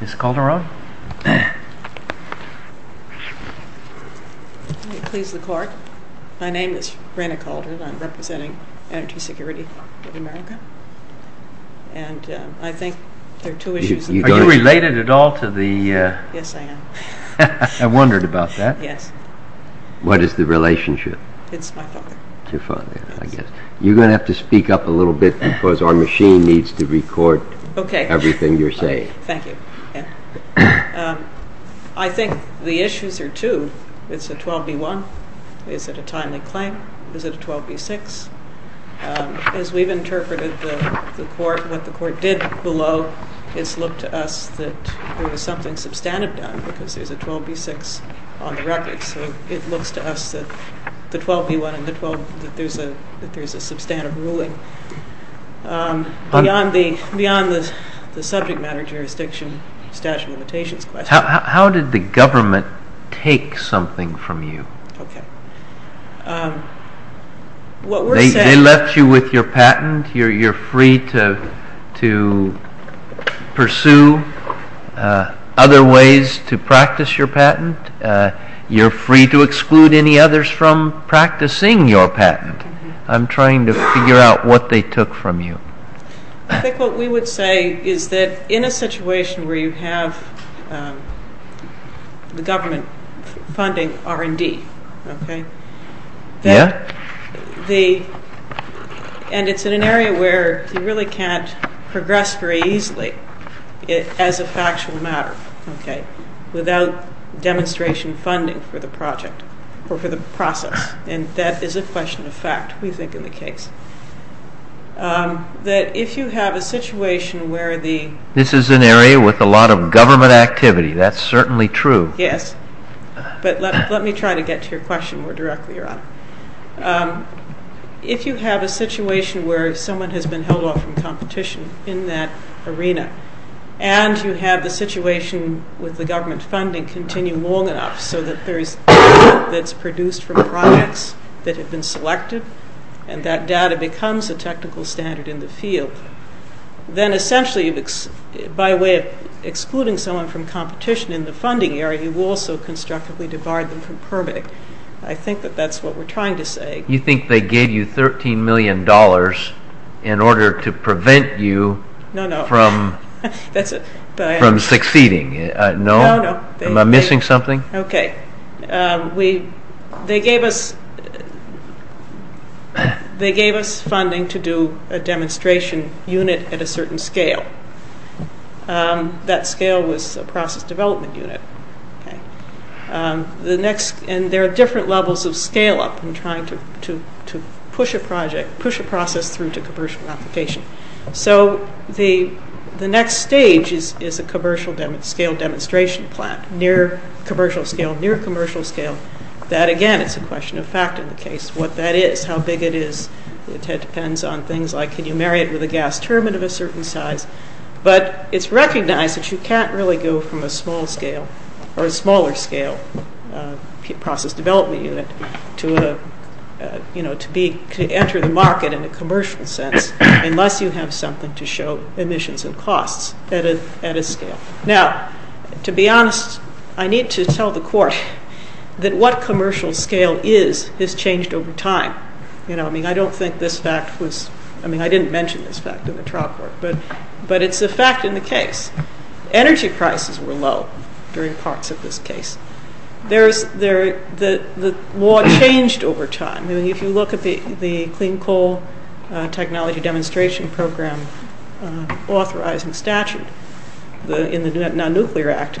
Ms. Calderon. May it please the Court, my name is Rena Calderon. I'm representing Energy Security of America. And I think there are two issues. Are you related at all to the… Yes, I am. I wondered about that. Yes. What is the relationship? It's my father. Your father, I guess. You're going to have to speak up a little bit because our machine needs to record everything you're saying. Thank you. I think the issues are two. Is it a 12B1? Is it a timely claim? Is it a 12B6? As we've interpreted what the Court did below, it's looked to us that there was something substantive done because there's a 12B6 on the record. So it looks to us that the 12B1 and the 12… that there's a substantive ruling. Beyond the subject matter, jurisdiction, statute of limitations question… How did the government take something from you? Okay. What we're saying… They left you with your patent. You're free to pursue other ways to practice your patent. You're free to exclude any others from practicing your patent. I'm trying to figure out what they took from you. I think what we would say is that in a situation where you have the government funding R&D, okay? Yeah. And it's in an area where you really can't progress very easily as a factual matter, okay, without demonstration funding for the project or for the process. And that is a question of fact, we think, in the case. That if you have a situation where the… This is an area with a lot of government activity. That's certainly true. Yes. But let me try to get to your question more directly, Your Honor. If you have a situation where someone has been held off from competition in that arena and you have the situation with the government funding continue long enough so that there is data that's produced from projects that have been selected and that data becomes a technical standard in the field, then essentially by way of excluding someone from competition in the funding area, you also constructively divide them from permitting. I think that that's what we're trying to say. You think they gave you $13 million in order to prevent you… No, no. …from succeeding. No? No, no. Am I missing something? Okay. They gave us funding to do a demonstration unit at a certain scale. That scale was a process development unit. And there are different levels of scale-up in trying to push a project, push a process through to commercial application. So the next stage is a commercial-scale demonstration plant, near commercial-scale, near commercial-scale. That, again, it's a question of fact in the case, what that is, how big it is. It depends on things like can you marry it with a gas turbine of a certain size. But it's recognized that you can't really go from a small-scale or a smaller-scale process development unit to enter the market in a commercial sense unless you have something to show emissions and costs at a scale. Now, to be honest, I need to tell the court that what commercial-scale is, has changed over time. I mean, I don't think this fact was… I mean, I didn't mention this fact in the trial court, but it's a fact in the case. Energy prices were low during parts of this case. The law changed over time. If you look at the Clean Coal Technology Demonstration Program authorizing statute in the Non-Nuclear Act,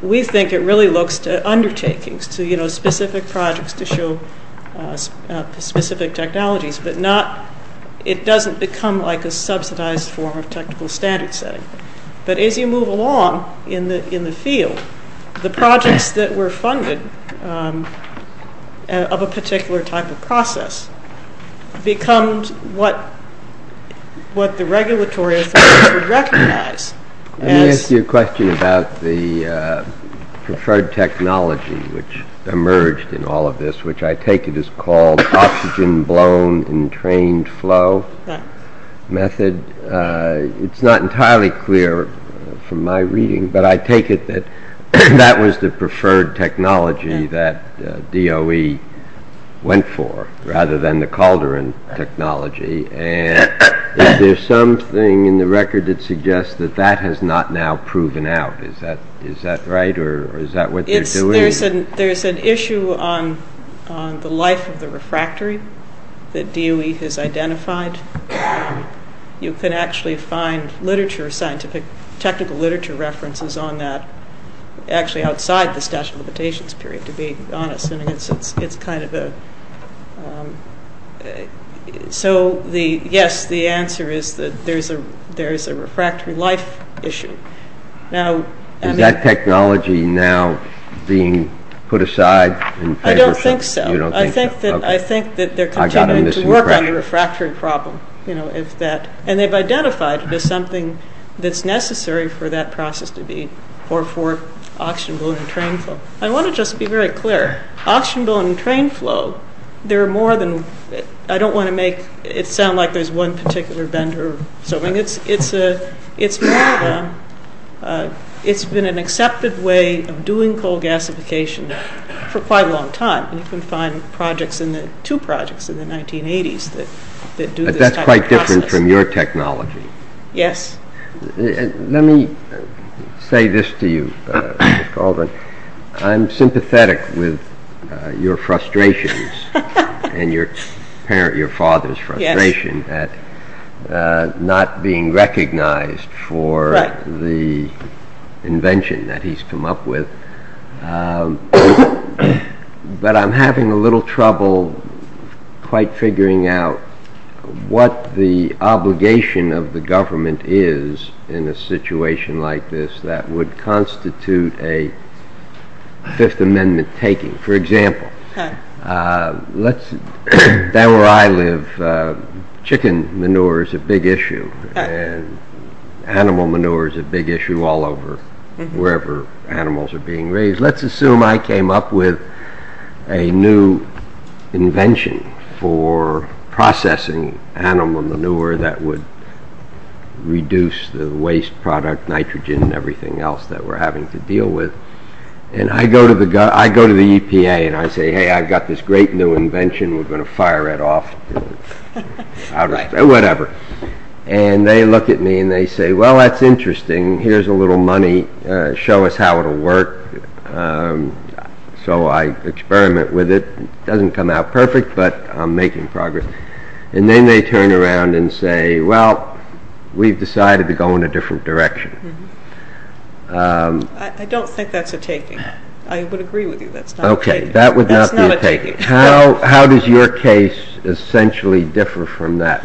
we think it really looks to undertakings, to specific projects to show specific technologies, but it doesn't become like a subsidized form of technical standard setting. But as you move along in the field, the projects that were funded of a particular type of process becomes what the regulatory authorities would recognize. Let me ask you a question about the preferred technology which emerged in all of this, which I take it is called oxygen-blown entrained flow method. It's not entirely clear from my reading, but I take it that that was the preferred technology that DOE went for, rather than the cauldron technology. Is there something in the record that suggests that that has not now proven out? Is that right, or is that what they're doing? There's an issue on the life of the refractory that DOE has identified. You can actually find technical literature references on that, actually outside the statute of limitations period, to be honest. So yes, the answer is that there is a refractory life issue. Is that technology now being put aside? I don't think so. I think that they're continuing to work on the refractory problem. And they've identified it as something that's necessary for that process to be, or for oxygen-blown entrained flow. I want to just be very clear. Oxygen-blown entrained flow, there are more than... I don't want to make it sound like there's one particular vendor. It's been an accepted way of doing coal gasification for quite a long time. You can find two projects in the 1980s that do this type of process. But that's quite different from your technology. Yes. Let me say this to you, Ms. Carleton. I'm sympathetic with your frustrations and your father's frustration at not being recognized for the invention that he's come up with. But I'm having a little trouble quite figuring out what the obligation of the government is in a situation like this that would constitute a Fifth Amendment taking. For example, where I live, chicken manure is a big issue. And animal manure is a big issue all over, wherever animals are being raised. Let's assume I came up with a new invention for processing animal manure that would reduce the waste product, nitrogen and everything else that we're having to deal with. And I go to the EPA and I say, Hey, I've got this great new invention. We're going to fire it off. All right, whatever. And they look at me and they say, Well, that's interesting. Here's a little money. Show us how it will work. So I experiment with it. It doesn't come out perfect, but I'm making progress. And then they turn around and say, Well, we've decided to go in a different direction. I don't think that's a taking. I would agree with you. That's not a taking. Okay, that would not be a taking. How does your case essentially differ from that?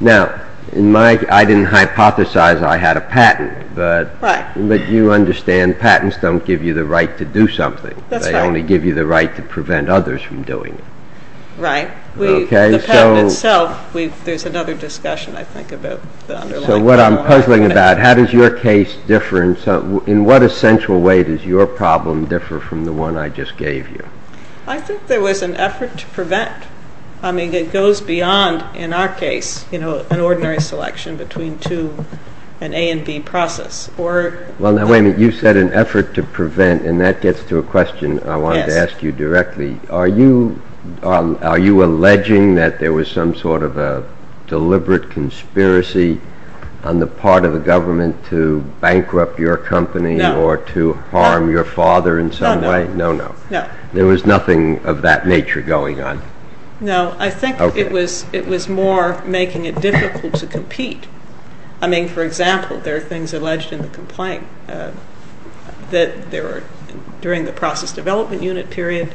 Now, I didn't hypothesize I had a patent. Right. But you understand patents don't give you the right to do something. That's right. They only give you the right to prevent others from doing it. Right. The patent itself, there's another discussion, I think, about the underlying formula. So what I'm puzzling about, how does your case differ? In what essential way does your problem differ from the one I just gave you? I think there was an effort to prevent. I mean, it goes beyond, in our case, an ordinary selection between an A and B process. Well, now, wait a minute. You said an effort to prevent. And that gets to a question I wanted to ask you directly. Are you alleging that there was some sort of a deliberate conspiracy on the part of the government to bankrupt your company or to harm your father in some way? No, no. There was nothing of that nature going on? No. I think it was more making it difficult to compete. I mean, for example, there are things alleged in the complaint that during the process development unit period,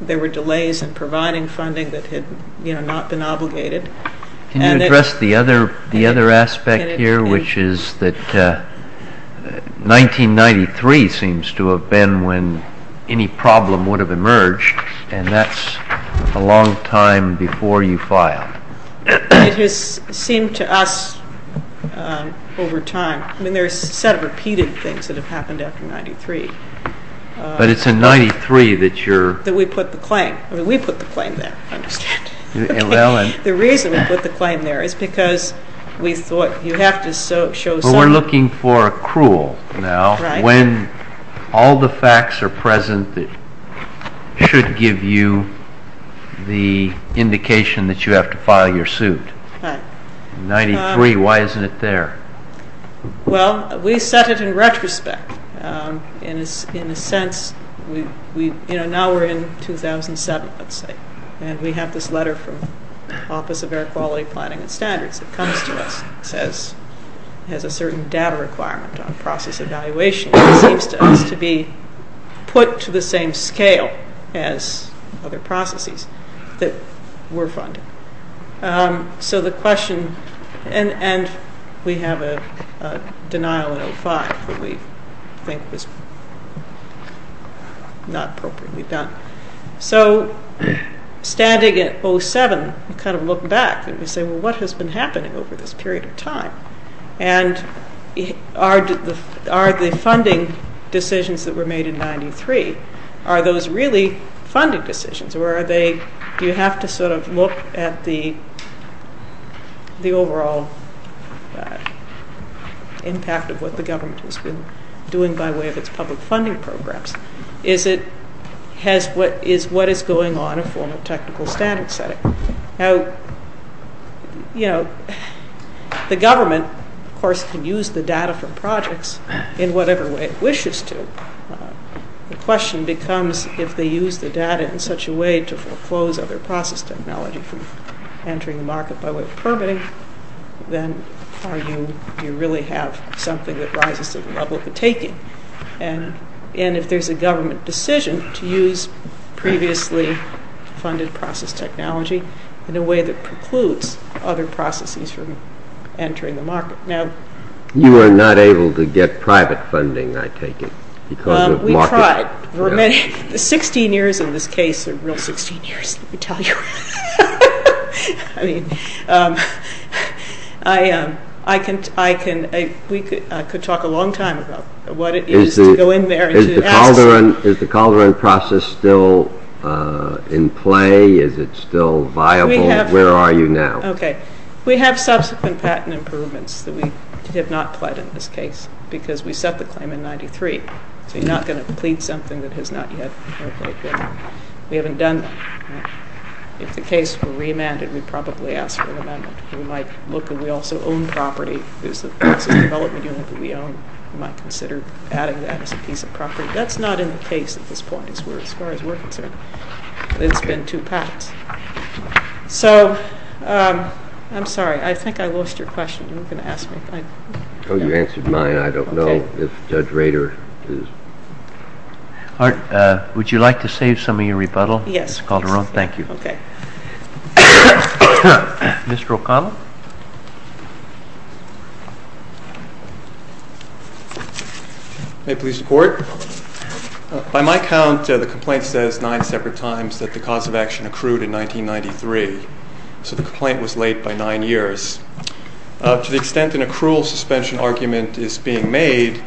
there were delays in providing funding that had not been obligated. Can you address the other aspect here, which is that 1993 seems to have been the time when any problem would have emerged, and that's a long time before you filed? It has seemed to us over time. I mean, there's a set of repeated things that have happened after 1993. But it's in 1993 that you're... That we put the claim. I mean, we put the claim there, understand? The reason we put the claim there is because we thought you have to show some... Now, when all the facts are present, it should give you the indication that you have to file your suit. In 1993, why isn't it there? Well, we set it in retrospect. In a sense, now we're in 2007, let's say, and we have this letter from the Office of Air Quality Planning and Standards. It comes to us and says it has a certain data requirement on process evaluation. It seems to us to be put to the same scale as other processes that were funded. So the question... And we have a denial in 2005 that we think was not appropriately done. So standing at 07, we kind of look back and we say, well, what has been happening over this period of time? And are the funding decisions that were made in 93, are those really funding decisions? Or are they... Do you have to sort of look at the overall impact of what the government has been doing by way of its public funding programs? Is it... Is what is going on a formal technical standard setting? Now, you know, the government, of course, can use the data for projects in whatever way it wishes to. The question becomes if they use the data in such a way to foreclose other process technology from entering the market by way of permitting, then do you really have something that rises to the level of the taking? And if there's a government decision to use previously funded process technology in a way that precludes other processes from entering the market. Now... You were not able to get private funding, I take it, because of market... We tried. For 16 years in this case, a real 16 years, let me tell you. I mean, I can... We could talk a long time about what it is to go in there... Is the Calderon process still in play? Is it still viable? Where are you now? Okay. We have subsequent patent improvements that we have not pled in this case because we set the claim in 93. So you're not going to plead something that has not yet... We haven't done that. If the case were re-amended, we'd probably ask for an amendment. We might look at... We also own property. It's a development unit that we own. We might consider adding that as a piece of property. That's not in the case at this point as far as we're concerned. It's been two patents. So... I'm sorry. I think I lost your question. You were going to ask me. Oh, you answered mine. I don't know if Judge Rader is... Art, would you like to save some of your rebuttal? Yes. It's Calderon. Thank you. Okay. Mr. O'Connell? May it please the Court? By my count, the complaint says nine separate times that the cause of action accrued in 1993. So the complaint was late by nine years. To the extent an accrual suspension argument is being made,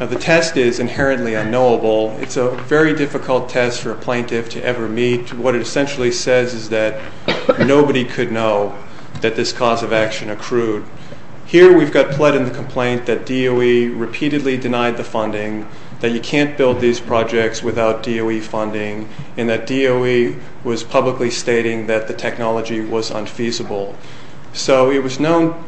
the test is inherently unknowable. It's a very difficult test for a plaintiff to ever meet. What it essentially says is that nobody could know that this cause of action accrued. Here we've got pled in the complaint that DOE repeatedly denied the funding, that you can't build these projects without DOE funding, and that DOE was publicly stating that the technology was unfeasible. So it was known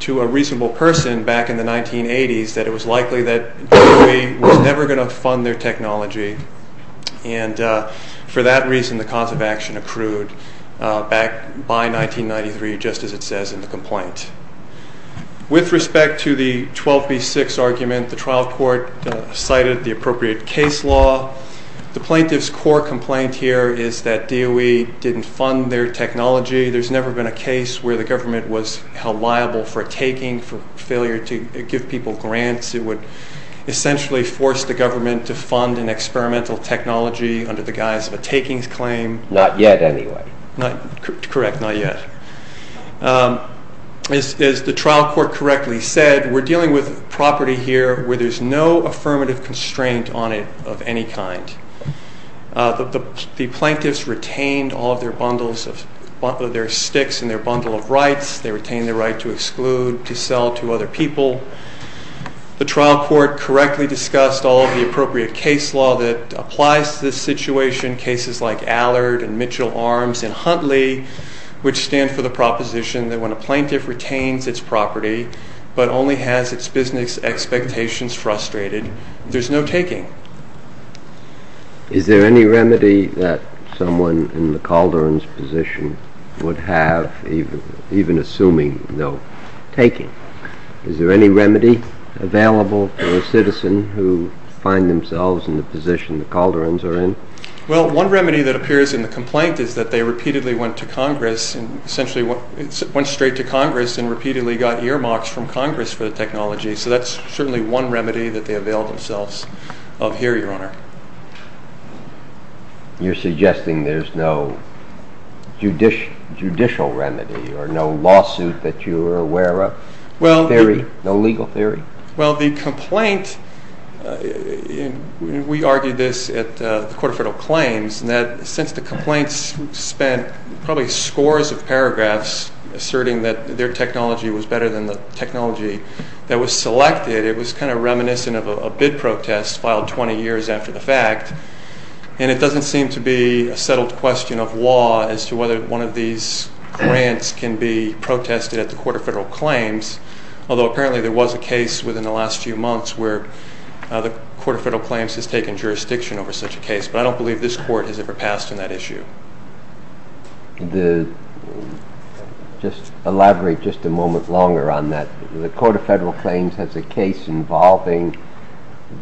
to a reasonable person back in the 1980s that it was likely that DOE was never going to fund their technology, and for that reason the cause of action accrued back by 1993, just as it says in the complaint. With respect to the 12B6 argument, the trial court cited the appropriate case law. The plaintiff's core complaint here is that DOE didn't fund their technology. There's never been a case where the government was held liable for a taking, for failure to give people grants. It would essentially force the government to fund an experimental technology under the guise of a takings claim. Not yet, anyway. Correct, not yet. As the trial court correctly said, we're dealing with property here where there's no affirmative constraint on it of any kind. The plaintiffs retained all of their bundles of sticks and their bundle of rights. They retained their right to exclude, to sell to other people. The trial court correctly discussed all of the appropriate case law that applies to this situation, cases like Allard and Mitchell Arms and Huntley, which stand for the proposition that when a plaintiff retains its property but only has its business expectations frustrated, there's no taking. Is there any remedy that someone in the Calderon's position would have, even assuming no taking? Is there any remedy available for a citizen who finds themselves in the position the Calderons are in? Well, one remedy that appears in the complaint is that they repeatedly went to Congress, essentially went straight to Congress and repeatedly got earmarks from Congress for the technology. So that's certainly one remedy that they availed themselves of here, Your Honor. You're suggesting there's no judicial remedy or no lawsuit that you're aware of? No legal theory? Well, the complaint, we argued this at the Court of Federal Claims, that since the complaints spent probably scores of paragraphs asserting that their technology was better than the technology that was selected, it was kind of reminiscent of a bid protest filed 20 years after the fact, and it doesn't seem to be a settled question of law as to whether one of these grants can be protested at the Court of Federal Claims, although apparently there was a case within the last few months where the Court of Federal Claims has taken jurisdiction over such a case, but I don't believe this court has ever passed on that issue. Could you elaborate just a moment longer on that? The Court of Federal Claims has a case involving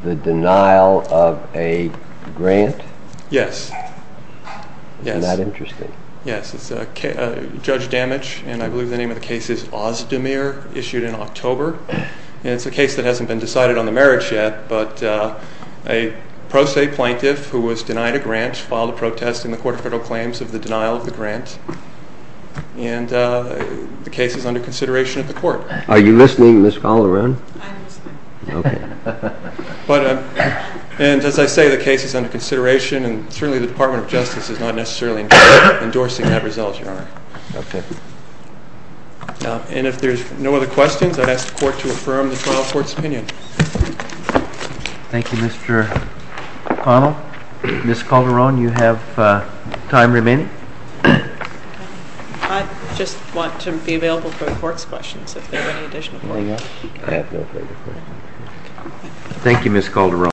the denial of a grant? Yes. Isn't that interesting? Yes, it's Judge Damage, and I believe the name of the case is Ozdemir, issued in October, and it's a case that hasn't been decided on the merits yet, but a pro se plaintiff who was denied a grant filed a protest in the Court of Federal Claims of the denial of the grant, and the case is under consideration at the Court. Are you listening, Ms. Calderon? I'm listening. And as I say, the case is under consideration, and certainly the Department of Justice is not necessarily endorsing that result, Your Honor. Okay. And if there's no other questions, I'd ask the Court to affirm the trial court's opinion. Thank you, Mr. O'Connell. Ms. Calderon, you have time remaining. I just want to be available for the Court's questions if there are any additional ones. I have no further questions. Thank you, Ms. Calderon.